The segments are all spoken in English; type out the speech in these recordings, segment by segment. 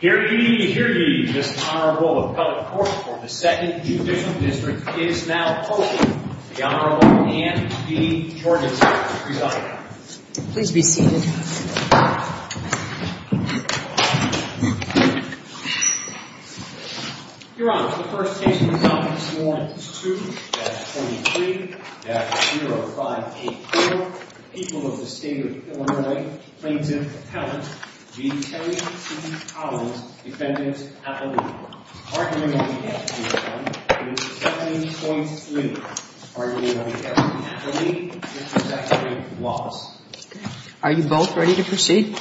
Here ye, here ye, this Honorable Appellate Court for the 2nd Judicial District is now open. The Honorable Anne B. Jorgensen will present. Please be seated. Your Honor, the first case we're going to look at this morning is 2-23-0584. The people of the State of Illinois plaintiff, Appellant G. Terry C. Collins, Defendant Appellee. Our hearing on the case this morning is 2-23. Our hearing on the case this morning is 2-23. Are you both ready to proceed?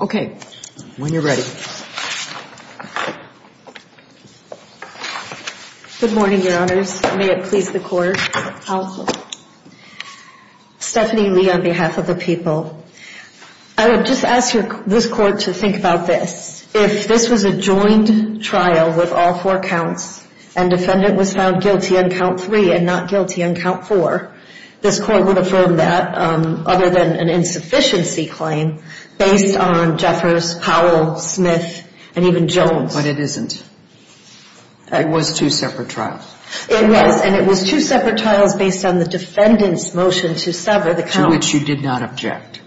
Okay. When you're ready. Good morning, Your Honors. May it please the Court. Stephanie Lee on behalf of the people. I would just ask this Court to think about this. If this was a joined trial with all four counts and defendant was found guilty on count three and not guilty on count four, this Court would affirm that other than an insufficiency claim based on Jeffers, Powell, Smith, and even Jones. But it isn't. It was two separate trials. It was. And it was two separate trials based on the defendant's motion to sever the count. On which you did not object.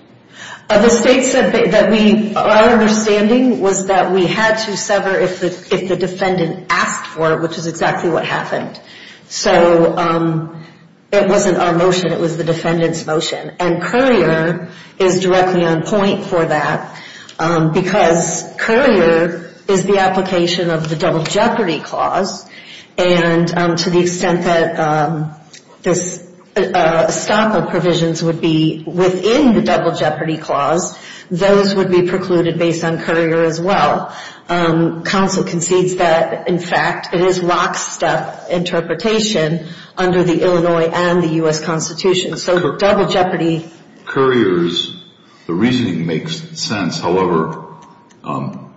The State said that our understanding was that we had to sever if the defendant asked for it, which is exactly what happened. So it wasn't our motion. It was the defendant's motion. And Currier is directly on point for that because Currier is the application of the double jeopardy clause. And to the extent that this stop of provisions would be within the double jeopardy clause, those would be precluded based on Currier as well. Counsel concedes that, in fact, it is lockstep interpretation under the Illinois and the U.S. Constitution. So double jeopardy. Currier's reasoning makes sense. However,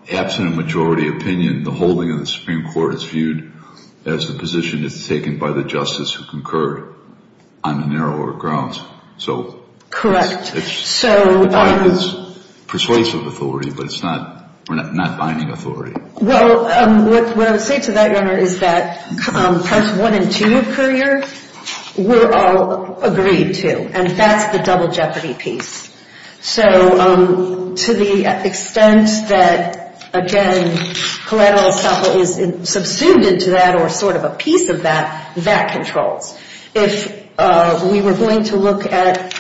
absent a majority opinion, the holding of the Supreme Court is viewed as a position that is taken by the justice who concurred on the narrower grounds. Correct. It's persuasive authority, but it's not binding authority. Well, what I would say to that, Your Honor, is that Parts 1 and 2 of Currier were all agreed to. And that's the double jeopardy piece. So to the extent that, again, collateral estoppel is subsumed into that or sort of a piece of that, that controls. If we were going to look at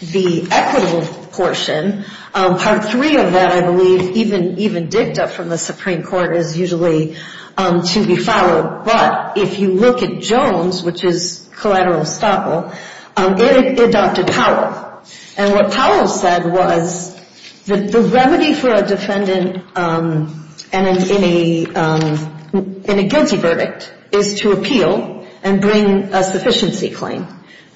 the equitable portion, Part 3 of that, I believe, even digged up from the Supreme Court, is usually to be followed. But if you look at Jones, which is collateral estoppel, it adopted power. And what Powell said was that the remedy for a defendant in a guilty verdict is to appeal and bring a sufficiency claim.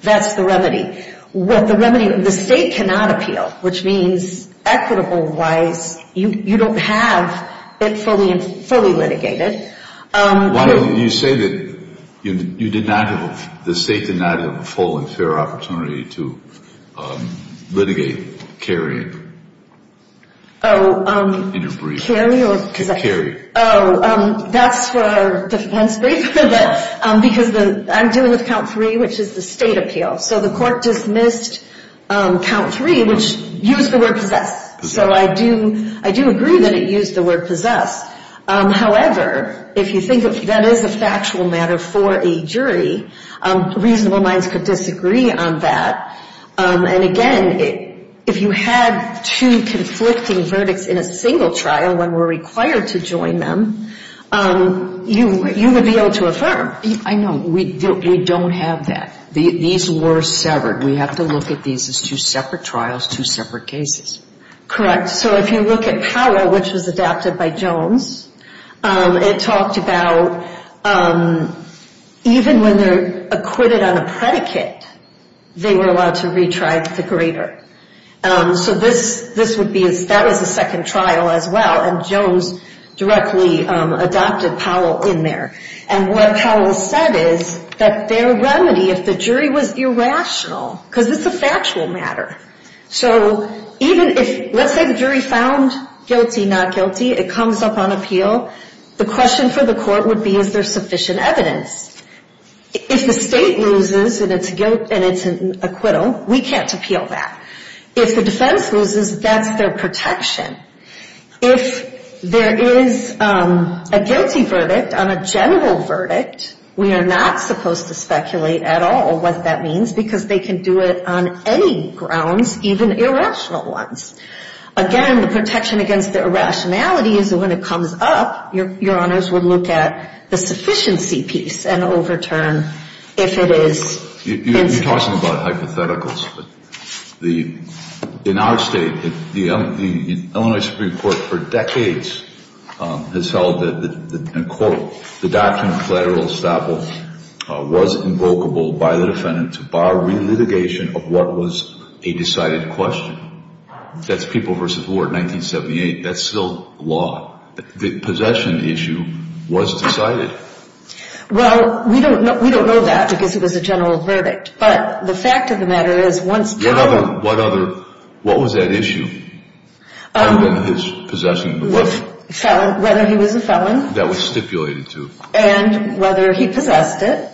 That's the remedy. What the remedy, the State cannot appeal, which means equitable-wise you don't have it fully litigated. Why don't you say that you did not have, the State did not have a full and fair opportunity to litigate, carry, interbreed? Carry or possess? Carry. Oh, that's for the defense briefer. Because I'm dealing with Count 3, which is the State appeal. So the Court dismissed Count 3, which used the word possess. So I do agree that it used the word possess. However, if you think that that is a factual matter for a jury, reasonable minds could disagree on that. And, again, if you had two conflicting verdicts in a single trial when we're required to join them, you would be able to affirm. I know. We don't have that. These were severed. We have to look at these as two separate trials, two separate cases. Correct. So if you look at Powell, which was adopted by Jones, it talked about even when they're acquitted on a predicate, they were allowed to retry the greater. So this would be, that was the second trial as well, and Jones directly adopted Powell in there. And what Powell said is that their remedy, if the jury was irrational, because it's a factual matter. So even if, let's say the jury found guilty, not guilty, it comes up on appeal, the question for the Court would be, is there sufficient evidence? If the State loses and it's an acquittal, we can't appeal that. If the defense loses, that's their protection. If there is a guilty verdict on a general verdict, we are not supposed to speculate at all what that means, because they can do it on any grounds, even irrational ones. Again, the protection against the irrationality is when it comes up, Your Honors would look at the sufficiency piece and overturn if it is. But you're talking about hypotheticals. In our State, the Illinois Supreme Court for decades has held that, in court, the doctrine of collateral estoppel was invocable by the defendant to bar relitigation of what was a decided question. That's People v. Ward, 1978. That's still law. The possession issue was decided. Well, we don't know that, because it was a general verdict. But the fact of the matter is, once killed... What other, what was that issue other than his possession of the weapon? Whether he was a felon. That was stipulated to. And whether he possessed it.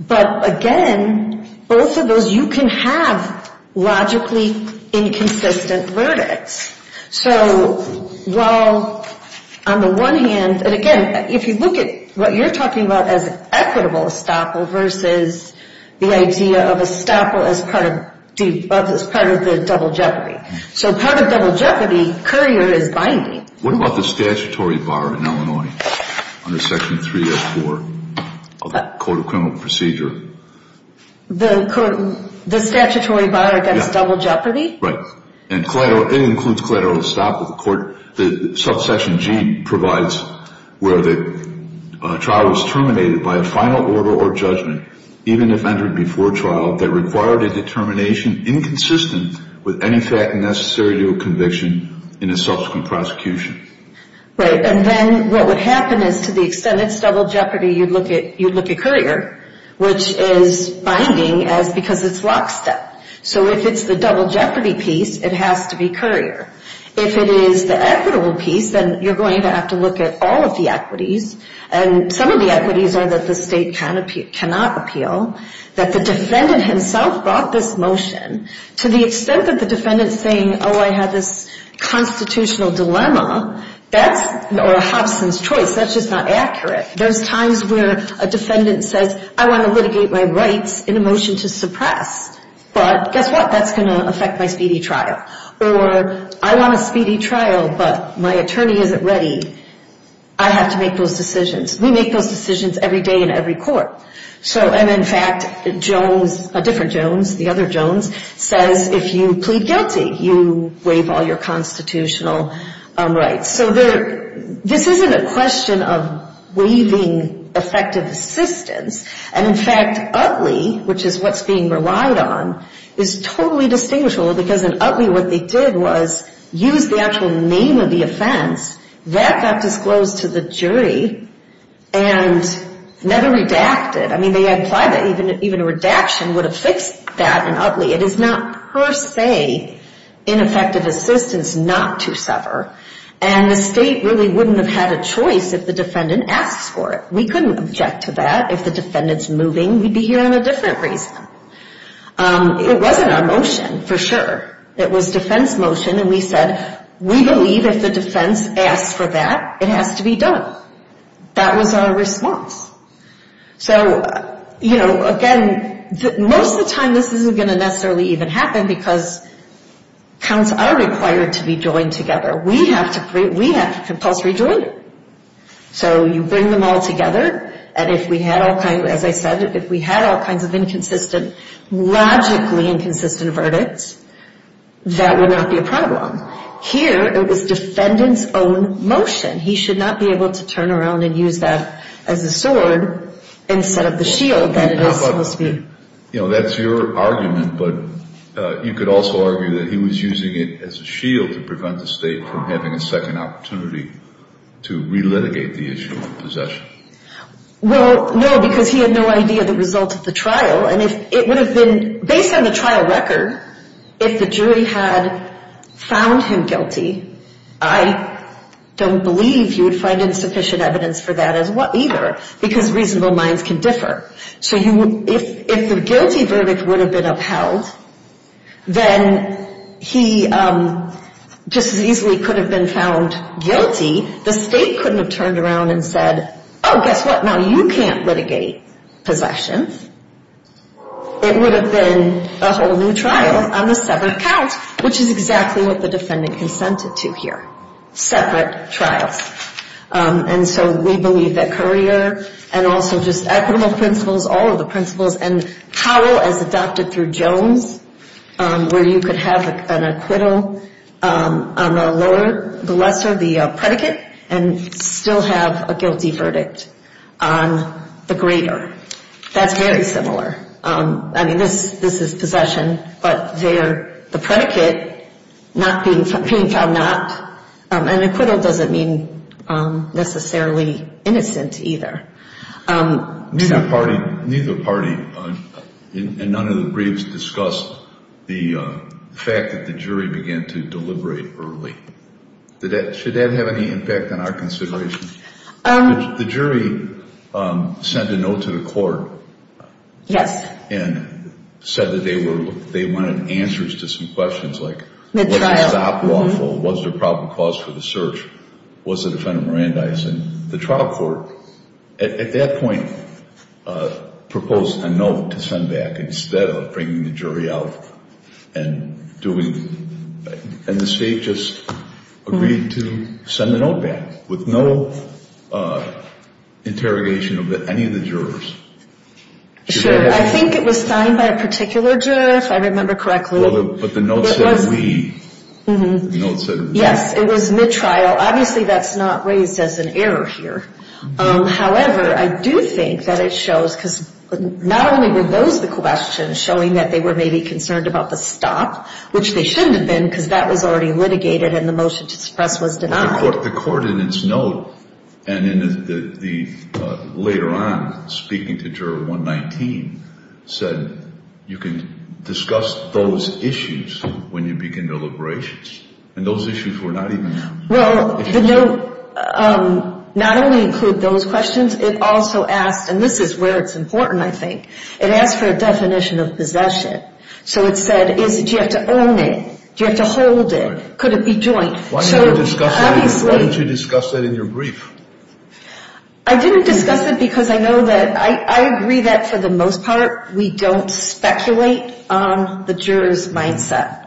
But, again, both of those, you can have logically inconsistent verdicts. So, while on the one hand, and again, if you look at what you're talking about as equitable estoppel versus the idea of estoppel as part of the double jeopardy. So part of double jeopardy, Currier is binding. What about the statutory bar in Illinois under Section 304 of the Code of Criminal Procedure? The statutory bar against double jeopardy? Right. And it includes collateral estoppel. The court, the subsection G provides where the trial was terminated by a final order or judgment, even if entered before trial, that required a determination inconsistent with any fact necessary to a conviction in a subsequent prosecution. Right. And then what would happen is, to the extent it's double jeopardy, you'd look at Currier, which is binding because it's lockstep. So if it's the double jeopardy piece, it has to be Currier. If it is the equitable piece, then you're going to have to look at all of the equities. And some of the equities are that the state cannot appeal, that the defendant himself brought this motion. To the extent that the defendant's saying, oh, I have this constitutional dilemma, that's a Hobson's choice. That's just not accurate. There's times where a defendant says, I want to litigate my rights in a motion to suppress. But guess what? That's going to affect my speedy trial. Or I want a speedy trial, but my attorney isn't ready. I have to make those decisions. We make those decisions every day in every court. And, in fact, Jones, a different Jones, the other Jones, says if you plead guilty, you waive all your constitutional rights. So this isn't a question of waiving effective assistance. And, in fact, Utley, which is what's being relied on, is totally distinguishable because in Utley what they did was use the actual name of the offense. That got disclosed to the jury and never redacted. I mean, they implied that even a redaction would have fixed that in Utley. It is not per se in effective assistance not to sever. And the state really wouldn't have had a choice if the defendant asks for it. We couldn't object to that. If the defendant's moving, we'd be hearing a different reason. It wasn't our motion, for sure. It was defense motion, and we said, we believe if the defense asks for that, it has to be done. That was our response. So, you know, again, most of the time this isn't going to necessarily even happen because counts are required to be joined together. We have to compulsory join. So you bring them all together, and if we had all kinds, as I said, if we had all kinds of inconsistent, logically inconsistent verdicts, that would not be a problem. Here it was defendant's own motion. He should not be able to turn around and use that as a sword instead of the shield that it is supposed to be. You know, that's your argument, but you could also argue that he was using it as a shield to prevent the state from having a second opportunity to relitigate the issue of possession. Well, no, because he had no idea the result of the trial. Based on the trial record, if the jury had found him guilty, I don't believe you would find insufficient evidence for that either because reasonable minds can differ. So if the guilty verdict would have been upheld, then he just as easily could have been found guilty. The state couldn't have turned around and said, oh, guess what? Now you can't litigate possession. It would have been a whole new trial on a separate count, which is exactly what the defendant consented to here, separate trials. And so we believe that Currier and also just equitable principles, all of the principles, and Powell as adopted through Jones, where you could have an acquittal on the lesser, the predicate, and still have a guilty verdict on the greater. That's very similar. I mean, this is possession, but the predicate not being found not, and acquittal doesn't mean necessarily innocent either. Neither party, and none of the briefs discussed the fact that the jury began to deliberate early. Should that have any impact on our consideration? The jury sent a note to the court. Yes. And said that they wanted answers to some questions like was the stop lawful? Was there proper cause for the search? Was the defendant Mirandizing? The trial court at that point proposed a note to send back instead of bringing the jury out and doing, and the state just agreed to send the note back with no interrogation of any of the jurors. I think it was signed by a particular juror, if I remember correctly. But the note said we. Yes. It was mid-trial. Obviously, that's not raised as an error here. However, I do think that it shows, because not only were those the questions showing that they were maybe concerned about the stop, which they shouldn't have been because that was already litigated and the motion to suppress was denied. The court in its note, and later on speaking to juror 119, said you can discuss those issues when you begin deliberations. And those issues were not even. Well, the note not only included those questions, it also asked, and this is where it's important, I think. It asked for a definition of possession. So it said, do you have to own it? Do you have to hold it? Could it be joint? Why didn't you discuss that in your brief? I didn't discuss it because I know that I agree that, for the most part, we don't speculate on the juror's mindset.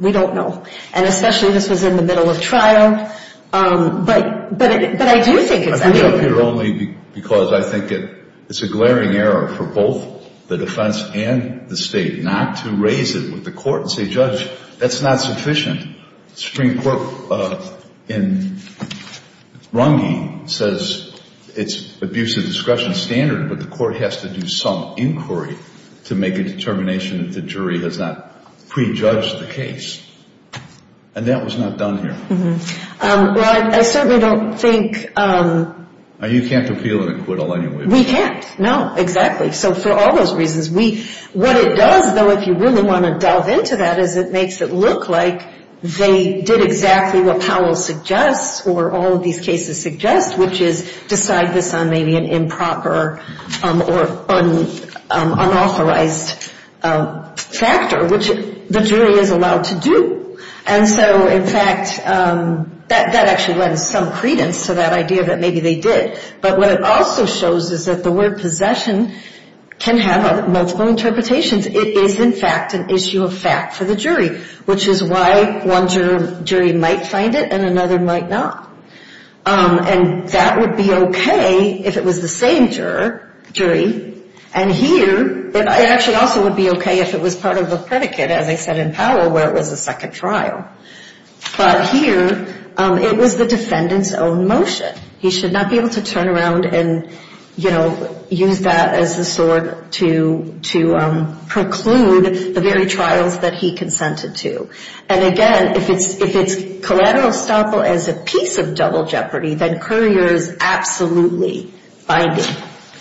We don't know. And especially this was in the middle of trial. But I do think it's. I put it up here only because I think it's a glaring error for both the defense and the state not to raise it with the court and say, judge, that's not sufficient. Supreme Court in Runge says it's abuse of discretion standard, but the court has to do some inquiry to make a determination that the jury has not prejudged the case. And that was not done here. Well, I certainly don't think. You can't appeal in acquittal anyway. We can't. No, exactly. So for all those reasons, what it does, though, if you really want to delve into that, is it makes it look like they did exactly what Powell suggests or all of these cases suggest, which is decide this on maybe an improper or unauthorized factor, which the jury is allowed to do. And so, in fact, that actually lends some credence to that idea that maybe they did. But what it also shows is that the word possession can have multiple interpretations. It is, in fact, an issue of fact for the jury, which is why one jury might find it and another might not. And that would be okay if it was the same jury. And here it actually also would be okay if it was part of a predicate, as I said in Powell, where it was a second trial. But here it was the defendant's own motion. He should not be able to turn around and, you know, use that as a sword to preclude the very trials that he consented to. And, again, if it's collateral estoppel as a piece of double jeopardy, then Courier is absolutely binding,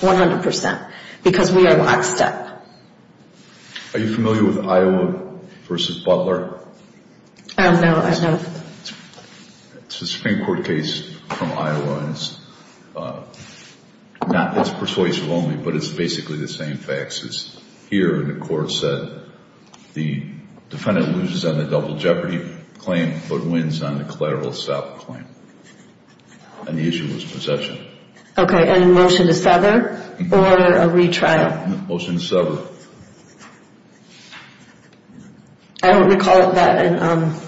100 percent, because we are lockstep. Are you familiar with Iowa v. Butler? Oh, no, I don't. It's a Supreme Court case from Iowa. It's persuasive only, but it's basically the same facts as here. And the court said the defendant loses on the double jeopardy claim but wins on the collateral estoppel claim. And the issue was possession. Okay, and a motion to sever or a retrial? Motion to sever. I don't recall that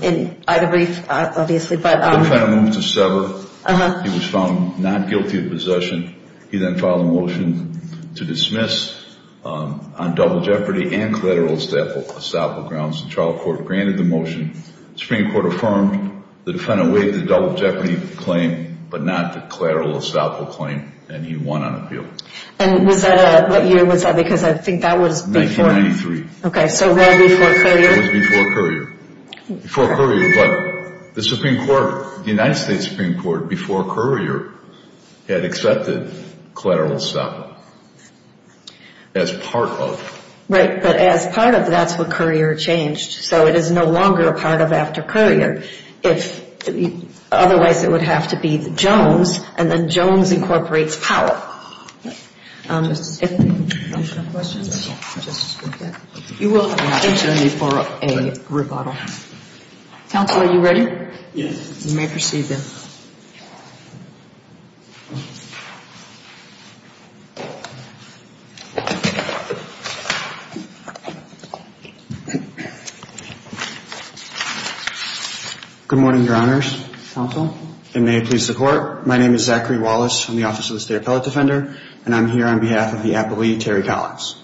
in either brief, obviously. The defendant moved to sever. He was found not guilty of possession. He then filed a motion to dismiss on double jeopardy and collateral estoppel grounds. The trial court granted the motion. The Supreme Court affirmed. The defendant waived the double jeopardy claim but not the collateral estoppel claim, and he won on appeal. And what year was that? Because I think that was before. Okay, so right before Courier. It was before Courier. Before Courier, but the Supreme Court, the United States Supreme Court, before Courier had accepted collateral estoppel as part of. Right, but as part of, that's what Courier changed. So it is no longer a part of after Courier. Otherwise, it would have to be Jones, and then Jones incorporates Powell. Questions? You will have an opportunity for a rebuttal. Counsel, are you ready? Yes. You may proceed then. Good morning, Your Honors. Counsel. You may please support. My name is Zachary Wallace from the Office of the State Appellate Defender, and I'm here on behalf of the appellee, Terry Collins.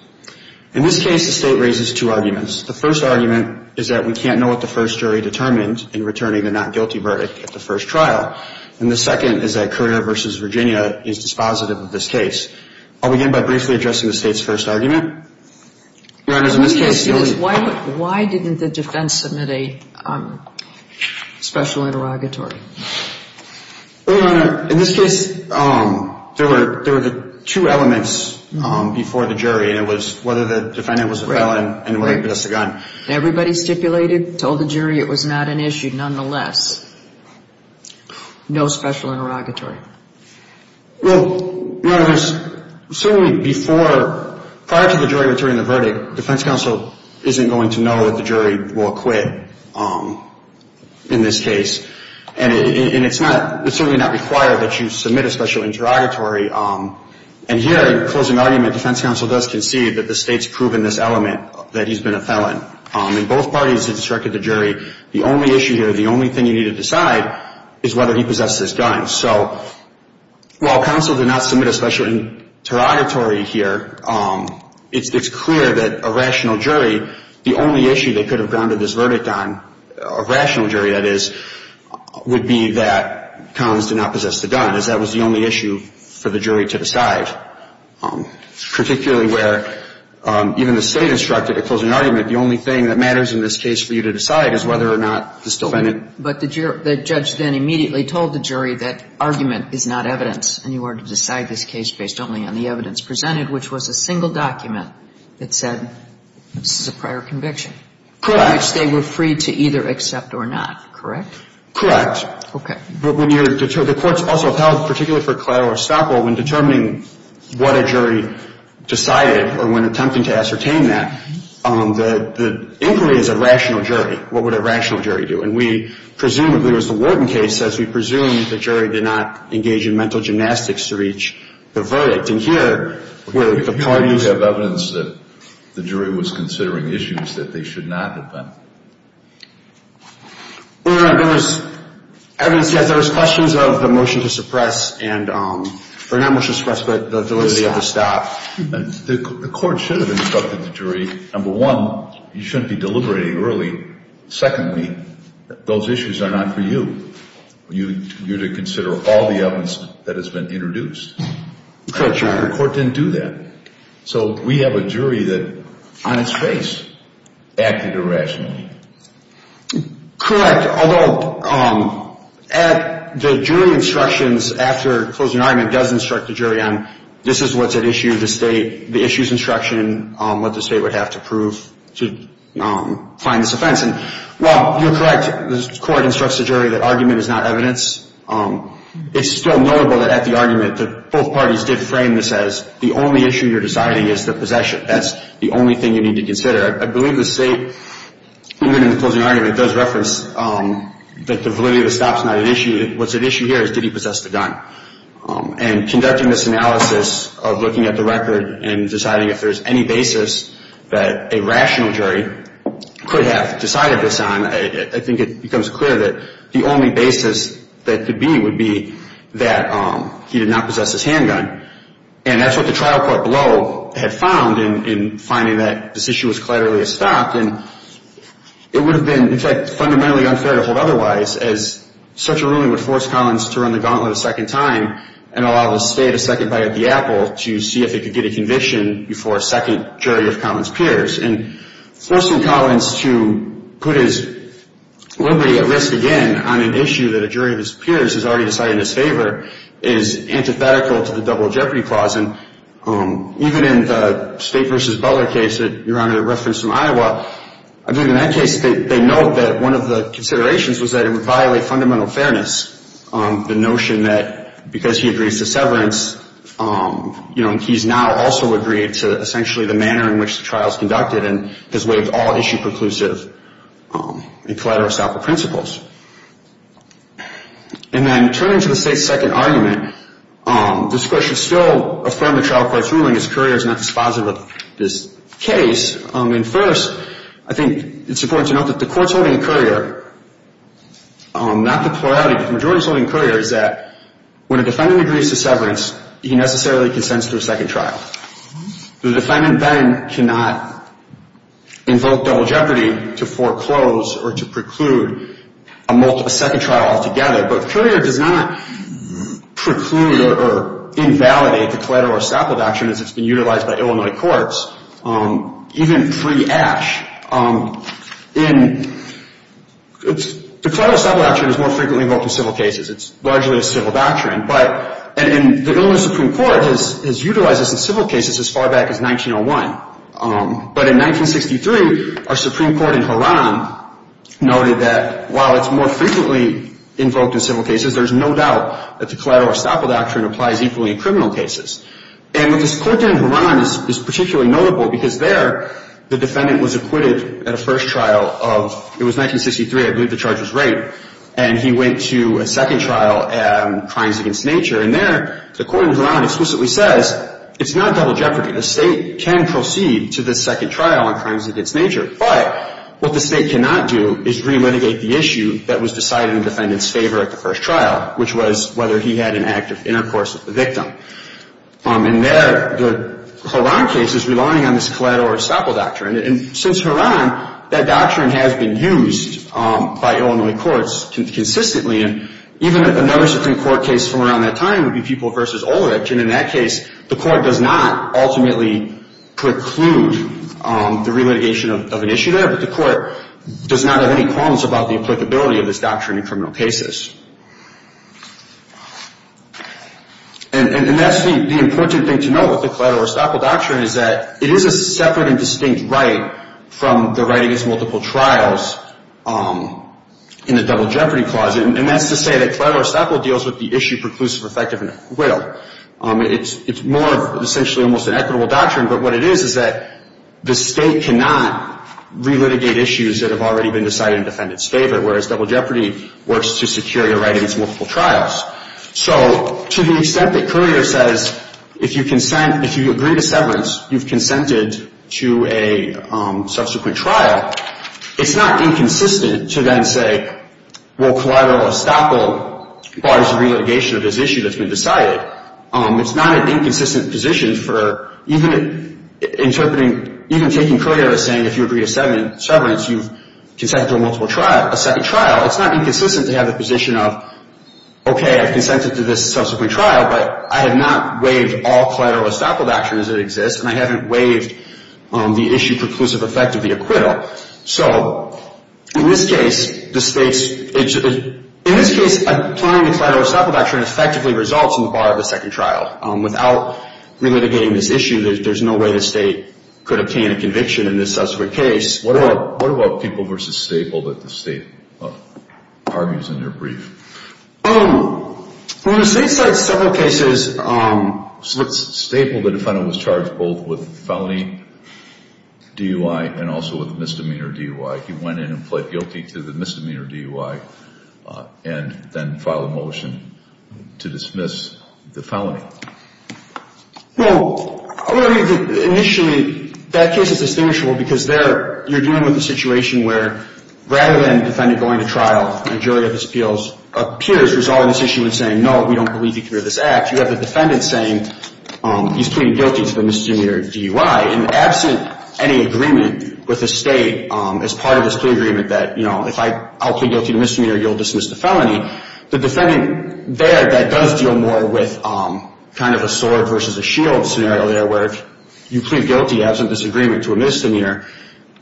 In this case, the State raises two arguments. The first argument is that we can't know what the first jury determined in returning the not guilty verdict at the first trial, and the second is that Courier v. Virginia is dispositive of this case. I'll begin by briefly addressing the State's first argument. Your Honors, in this case. Why didn't the defense submit a special interrogatory? Your Honor, in this case, there were two elements before the jury, and it was whether the defendant was a felon and whether he possessed a gun. Everybody stipulated, told the jury it was not an issue nonetheless. No special interrogatory. Well, Your Honors, certainly before, prior to the jury returning the verdict, defense counsel isn't going to know that the jury will acquit in this case, and it's not, it's certainly not required that you submit a special interrogatory. And here, in closing argument, defense counsel does concede that the State's proven this element, that he's been a felon. In both parties, it's directed to jury. The only issue here, the only thing you need to decide is whether he possessed this gun. So while counsel did not submit a special interrogatory here, it's clear that a rational jury, the only issue they could have grounded this verdict on, a rational jury, that is, would be that Collins did not possess the gun, as that was the only issue for the jury to decide. Particularly where, even the State instructed at closing argument, the only thing that matters in this case for you to decide is whether or not this defendant. But the judge then immediately told the jury that argument is not evidence, and you are to decide this case based only on the evidence presented, which was a single document that said this is a prior conviction. Correct. Which they were free to either accept or not. Correct? Correct. Okay. But when you're, the court's also held, particularly for collateral or stop, when determining what a jury decided or when attempting to ascertain that, the inquiry is a rational jury. What would a rational jury do? And we, presumably, as the Wharton case says, we presume the jury did not engage in mental gymnastics to reach the verdict. And here, where the parties… Do you have evidence that the jury was considering issues that they should not have been? No, no, no. There was evidence, yes. There was questions of the motion to suppress and, or not motion to suppress, but the ability of the stop. The court should have instructed the jury, number one, you shouldn't be deliberating early. Secondly, those issues are not for you. You're to consider all the evidence that has been introduced. Correct, Your Honor. And the court didn't do that. So we have a jury that, on its face, acted irrationally. Correct, although at the jury instructions, after closing an argument does instruct the jury on this is what's at issue, the state, the issue's instruction, what the state would have to prove to find this offense. And while you're correct, the court instructs the jury that argument is not evidence. It's still notable that at the argument that both parties did frame this as the only issue you're deciding is the possession. That's the only thing you need to consider. I believe the state, even in the closing argument, does reference that the validity of the stop is not at issue. What's at issue here is did he possess the gun. And conducting this analysis of looking at the record and deciding if there's any basis that a rational jury could have decided this on, I think it becomes clear that the only basis that could be would be that he did not possess his handgun. And that's what the trial court below had found in finding that this issue was clearly a stop. And it would have been, in fact, fundamentally unfair to hold otherwise, as such a ruling would force Collins to run the gauntlet a second time and allow the state a second bite at the apple to see if it could get a conviction before a second jury of Collins-Pierce. And forcing Collins to put his liberty at risk again on an issue that a jury of his peers has already decided in his favor is antithetical to the double jeopardy clause. And even in the State v. Butler case that Your Honor referenced from Iowa, I believe in that case they note that one of the considerations was that it would violate fundamental fairness, the notion that because he agrees to severance, you know, he's now also agreed to essentially the manner in which the trial is conducted and has waived all issue preclusive and collateral stopper principles. And then turning to the State's second argument, this Court should still affirm the trial court's ruling as couriers not dispositive of this case. And first, I think it's important to note that the Court's holding a courier, not the plurality, but the majority's holding a courier is that when a defendant agrees to severance, he necessarily consents to a second trial. The defendant then cannot invoke double jeopardy to foreclose or to preclude a second trial altogether. But a courier does not preclude or invalidate the collateral stopper doctrine as it's been utilized by Illinois courts. Even pre-Ash, the collateral stopper doctrine is more frequently invoked in civil cases. It's largely a civil doctrine. And the Illinois Supreme Court has utilized this in civil cases as far back as 1901. But in 1963, our Supreme Court in Harran noted that while it's more frequently invoked in civil cases, there's no doubt that the collateral stopper doctrine applies equally in criminal cases. And what this Court did in Harran is particularly notable because there, the defendant was acquitted at a first trial of, it was 1963, I believe the charge was rape, and he went to a second trial on crimes against nature. And there, the Court in Harran explicitly says it's not double jeopardy. A state can proceed to the second trial on crimes against nature. But what the state cannot do is re-litigate the issue that was decided in the defendant's favor at the first trial, which was whether he had an act of intercourse with the victim. And there, the Harran case is relying on this collateral stopper doctrine. And since Harran, that doctrine has been used by Illinois courts consistently. And even a notice of Supreme Court case from around that time would be People v. Olerich. And in that case, the Court does not ultimately preclude the re-litigation of an issue there, but the Court does not have any qualms about the applicability of this doctrine in criminal cases. And that's the important thing to note with the collateral stopper doctrine, is that it is a separate and distinct right from the right against multiple trials in the double jeopardy clause. And that's to say that collateral stopper deals with the issue preclusive, effective, and will. It's more of essentially almost an equitable doctrine, but what it is is that the state cannot re-litigate issues that have already been decided in the defendant's favor, whereas double jeopardy works to secure your right against multiple trials. So to the extent that Currier says, if you consent, if you agree to severance, you've consented to a subsequent trial, it's not inconsistent to then say, well, collateral estoppel bars the re-litigation of this issue that's been decided. It's not an inconsistent position for even interpreting, even taking Currier as saying, if you agree to severance, you've consented to a multiple trial, a second trial. It's not inconsistent to have the position of, okay, I've consented to this subsequent trial, but I have not waived all collateral estoppel doctrines that exist, and I haven't waived the issue preclusive effect of the acquittal. So in this case, applying the collateral estoppel doctrine effectively results in the bar of a second trial. Without re-litigating this issue, there's no way the state could obtain a conviction in this subsequent case. What about people versus Staple that the state argues in their brief? Well, the state cites several cases. Staple, the defendant, was charged both with felony DUI and also with a misdemeanor DUI. He went in and pled guilty to the misdemeanor DUI and then filed a motion to dismiss the felony. Well, initially, that case is distinguishable because there you're dealing with a situation where, rather than the defendant going to trial and a jury of his peers resolving this issue and saying, no, we don't believe you committed this act, you have the defendant saying he's pleading guilty to the misdemeanor DUI. And absent any agreement with the state as part of this plea agreement that, you know, if I'll plead guilty to misdemeanor, you'll dismiss the felony, the defendant there that does deal more with kind of a sword versus a shield scenario there where you plead guilty absent this agreement to a misdemeanor.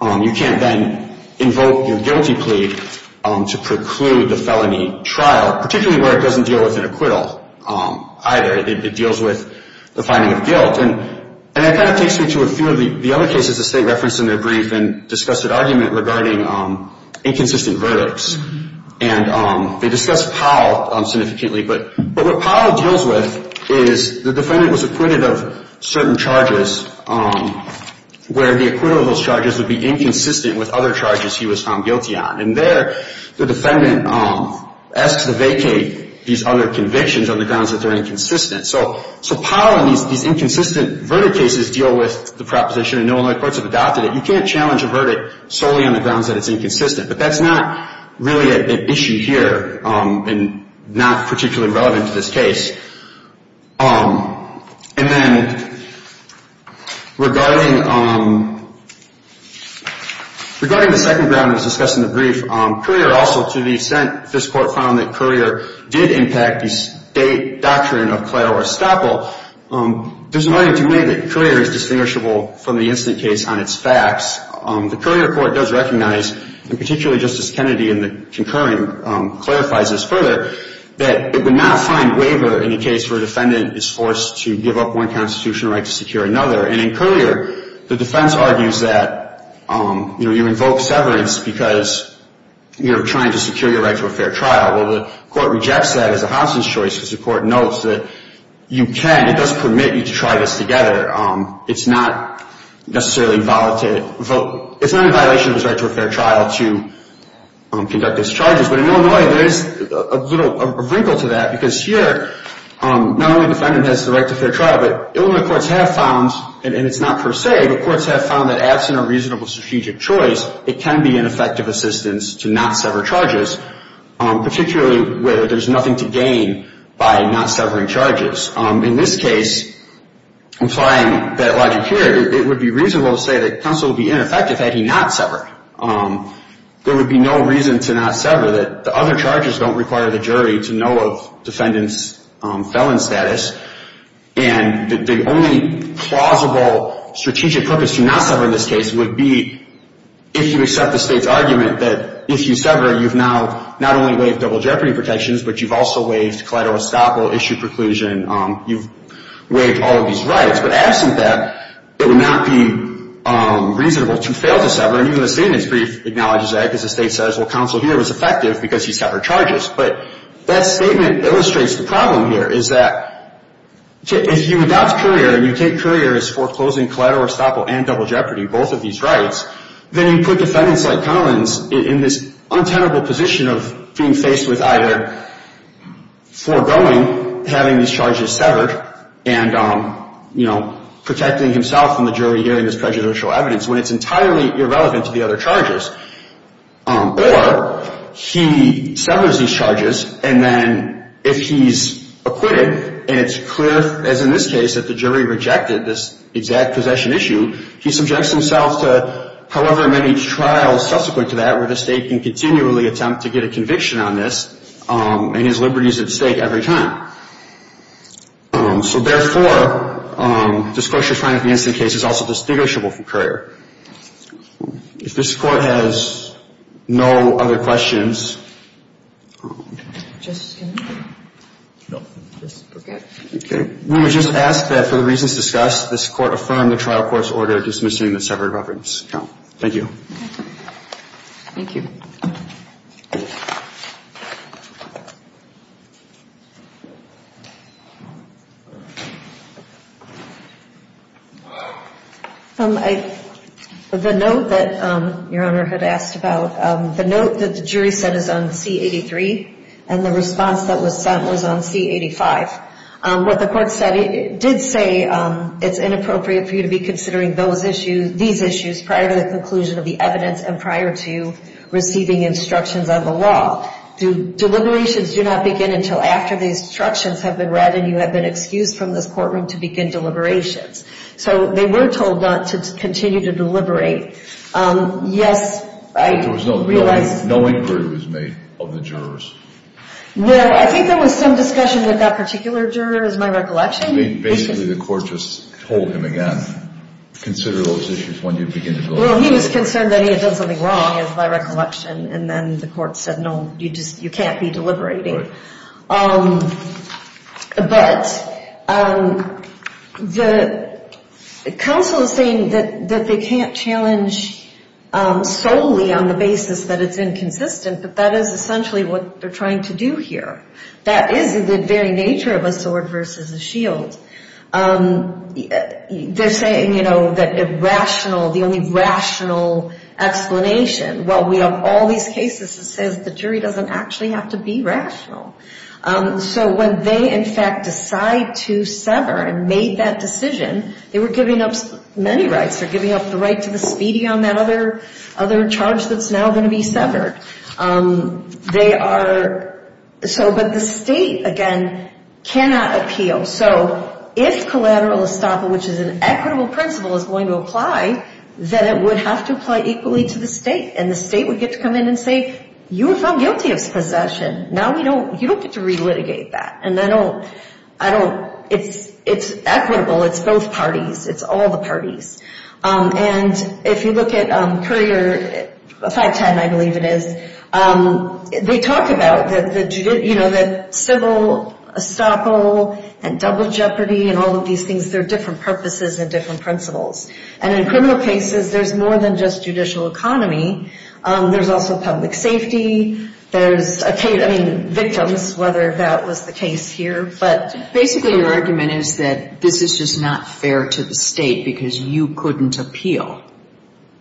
You can't then invoke your guilty plea to preclude the felony trial, particularly where it doesn't deal with an acquittal either. It deals with the finding of guilt. And that kind of takes me to a few of the other cases the state referenced in their brief and discussed at argument regarding inconsistent verdicts. And they discussed Powell significantly. But what Powell deals with is the defendant was acquitted of certain charges where the acquittal of those charges would be inconsistent with other charges he was found guilty on. And there the defendant asks to vacate these other convictions on the grounds that they're inconsistent. So Powell and these inconsistent verdict cases deal with the proposition, and no other courts have adopted it. You can't challenge a verdict solely on the grounds that it's inconsistent. But that's not really an issue here and not particularly relevant to this case. And then regarding the second ground that was discussed in the brief, Courier also to the extent this court found that Courier did impact the state doctrine of clairo or estoppel, there's no need to make it clear it's distinguishable from the instant case on its facts. The Courier court does recognize, and particularly Justice Kennedy in the concurring clarifies this further, that it would not find waiver in a case where a defendant is forced to give up one constitutional right to secure another. And in Courier, the defense argues that, you know, you invoke severance because you're trying to secure your right to a fair trial. Well, the court rejects that as a Hobson's choice because the court notes that you can. It does permit you to try this together. It's not necessarily a violation of the right to a fair trial to conduct these charges. But in Illinois, there is a little wrinkle to that because here not only the defendant has the right to a fair trial, but Illinois courts have found, and it's not per se, but courts have found that absent a reasonable strategic choice, it can be an effective assistance to not sever charges, particularly where there's nothing to gain by not severing charges. In this case, implying that logic here, it would be reasonable to say that counsel would be ineffective had he not severed. There would be no reason to not sever. The other charges don't require the jury to know of defendant's felon status. And the only plausible strategic purpose to not sever in this case would be if you accept the state's argument that if you sever, you've now not only waived double jeopardy protections, but you've also waived collateral estoppel issue preclusion. You've waived all of these rights. But absent that, it would not be reasonable to fail to sever. And even the statement's brief acknowledges that because the state says, well, counsel here was effective because he severed charges. But that statement illustrates the problem here is that if you adopt Courier and you take Courier as foreclosing collateral estoppel and double jeopardy, both of these rights, then you put defendants like Collins in this untenable position of being faced with either foregoing having these charges severed and, you know, protecting himself from the jury hearing this prejudicial evidence when it's entirely irrelevant to the other charges, or he severs these charges. And then if he's acquitted and it's clear, as in this case, that the jury rejected this exact possession issue, he subjects himself to however many trials subsequent to that where the state can continually attempt to get a conviction on this, and his liberty is at stake every time. So, therefore, this question of trying to convince the case is also distinguishable from Courier. If this Court has no other questions. Okay. We would just ask that for the reasons discussed, this Court affirm the trial court's order dismissing the severed reference. Thank you. Thank you. The note that Your Honor had asked about, the note that the jury said is on C-83 and the response that was sent was on C-85. What the Court said, it did say it's inappropriate for you to be considering those issues, these issues, prior to the conclusion of the evidence and prior to receiving instructions on the law. Deliberations do not begin until after the instructions have been read and you have been excused from this courtroom to begin deliberations. So they were told not to continue to deliberate. Yes, I realize. There was no inquiry was made of the jurors. No, I think there was some discussion with that particular juror is my recollection. I think basically the Court just told him again, consider those issues when you begin to deliberate. Well, he was concerned that he had done something wrong is my recollection, and then the Court said, no, you can't be deliberating. But the counsel is saying that they can't challenge solely on the basis that it's inconsistent, but that is essentially what they're trying to do here. That is the very nature of a sword versus a shield. They're saying, you know, that rational, the only rational explanation. Well, we have all these cases that says the jury doesn't actually have to be rational. So when they, in fact, decide to sever and made that decision, they were giving up many rights. They're giving up the right to the speedy on that other charge that's now going to be severed. They are so, but the state, again, cannot appeal. So if collateral estoppel, which is an equitable principle, is going to apply, then it would have to apply equally to the state. And the state would get to come in and say, you were found guilty of possession. Now you don't get to relitigate that. And I don't, it's equitable. It's both parties. It's all the parties. And if you look at Courier 510, I believe it is, they talk about the civil estoppel and double jeopardy and all of these things. They're different purposes and different principles. And in criminal cases, there's more than just judicial economy. There's also public safety. There's victims, whether that was the case here. But basically your argument is that this is just not fair to the state because you couldn't appeal.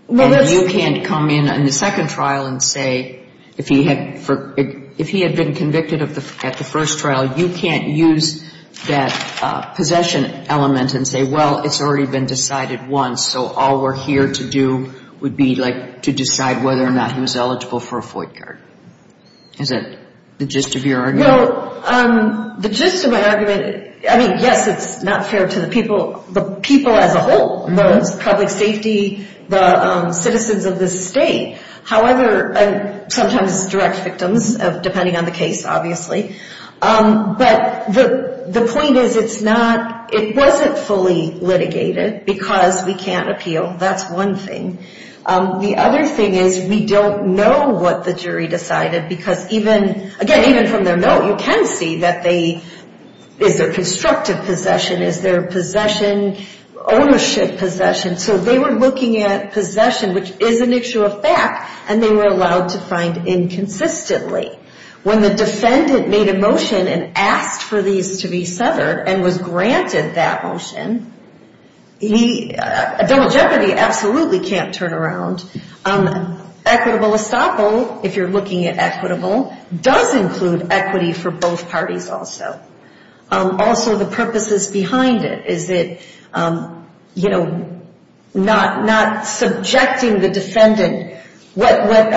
And you can't come in on the second trial and say, if he had been convicted at the first trial, you can't use that possession element and say, well, it's already been decided once, so all we're here to do would be, like, to decide whether or not he was eligible for a FOIC card. Is that the gist of your argument? Well, the gist of my argument, I mean, yes, it's not fair to the people, the people as a whole, the public safety, the citizens of this state. However, sometimes direct victims, depending on the case, obviously. But the point is it's not, it wasn't fully litigated because we can't appeal. That's one thing. The other thing is we don't know what the jury decided because even, again, even from their note, you can see that they, is there constructive possession? Is there possession, ownership possession? So they were looking at possession, which is an issue of fact, and they were allowed to find inconsistently. When the defendant made a motion and asked for these to be severed and was granted that motion, double jeopardy absolutely can't turn around. Equitable estoppel, if you're looking at equitable, does include equity for both parties also. Also, the purposes behind it is that, you know, not subjecting the defendant. What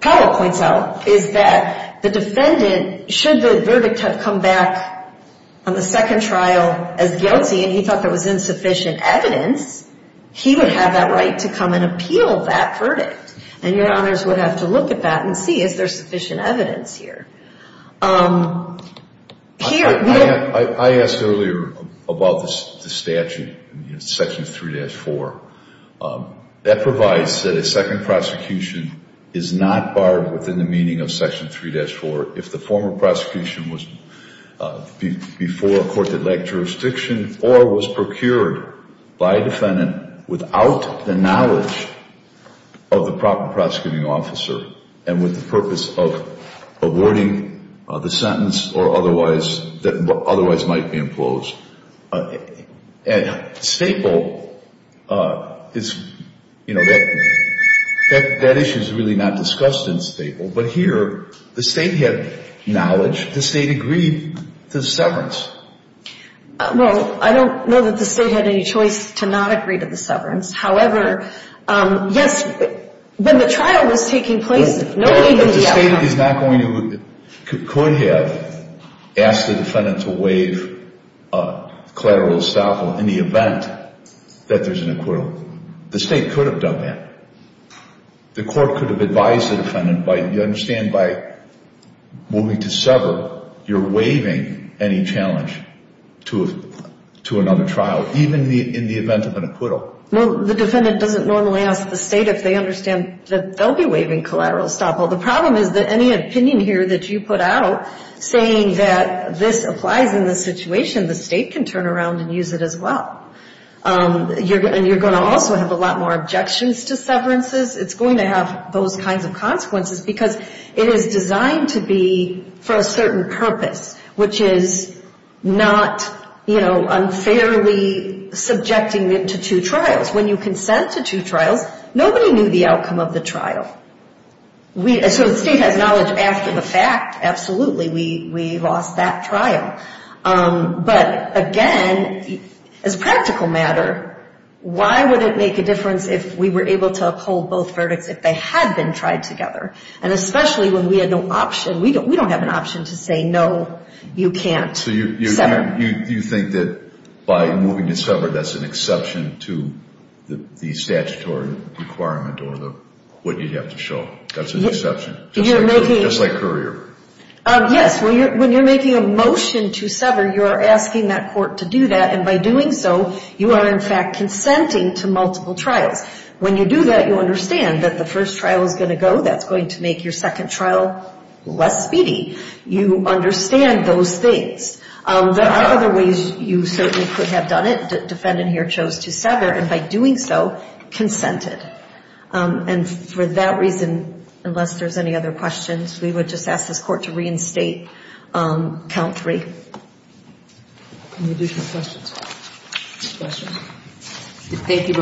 Powell points out is that the defendant, should the verdict have come back on the second trial as guilty, and he thought there was insufficient evidence, he would have that right to come and appeal that verdict. And your honors would have to look at that and see is there sufficient evidence here. I asked earlier about the statute, Section 3-4. That provides that a second prosecution is not barred within the meaning of Section 3-4. If the former prosecution was before a court that lacked jurisdiction or was procured by a defendant without the knowledge of the proper prosecuting officer and with the purpose of awarding the sentence or otherwise that otherwise might be imposed. And Staple is, you know, that issue is really not discussed in Staple. But here, the State had knowledge. The State agreed to the severance. Well, I don't know that the State had any choice to not agree to the severance. However, yes, when the trial was taking place, if no legal doubt. The State is not going to, could have asked the defendant to waive collateral estoppel in the event that there's an acquittal. The State could have done that. The court could have advised the defendant, you understand, by moving to sever, you're waiving any challenge to another trial, even in the event of an acquittal. Well, the defendant doesn't normally ask the State if they understand that they'll be waiving collateral estoppel. The problem is that any opinion here that you put out saying that this applies in this situation, the State can turn around and use it as well. And you're going to also have a lot more objections to severances. It's going to have those kinds of consequences because it is designed to be for a certain purpose, which is not, you know, unfairly subjecting it to two trials. When you consent to two trials, nobody knew the outcome of the trial. So the State has knowledge after the fact, absolutely, we lost that trial. But, again, as a practical matter, why would it make a difference if we were able to uphold both verdicts if they had been tried together? And especially when we had no option. We don't have an option to say, no, you can't sever. So you think that by moving to sever, that's an exception to the statutory requirement or what you'd have to show. That's an exception, just like courier. Yes, when you're making a motion to sever, you're asking that court to do that, and by doing so, you are, in fact, consenting to multiple trials. When you do that, you understand that the first trial is going to go, that's going to make your second trial less speedy. You understand those things. There are other ways you certainly could have done it. The defendant here chose to sever, and by doing so, consented. And for that reason, unless there's any other questions, we would just ask this court to reinstate count three. Any additional questions? Thank you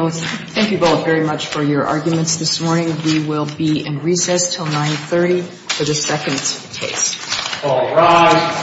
both very much for your arguments this morning. We will be in recess until 930 for the second case. All rise.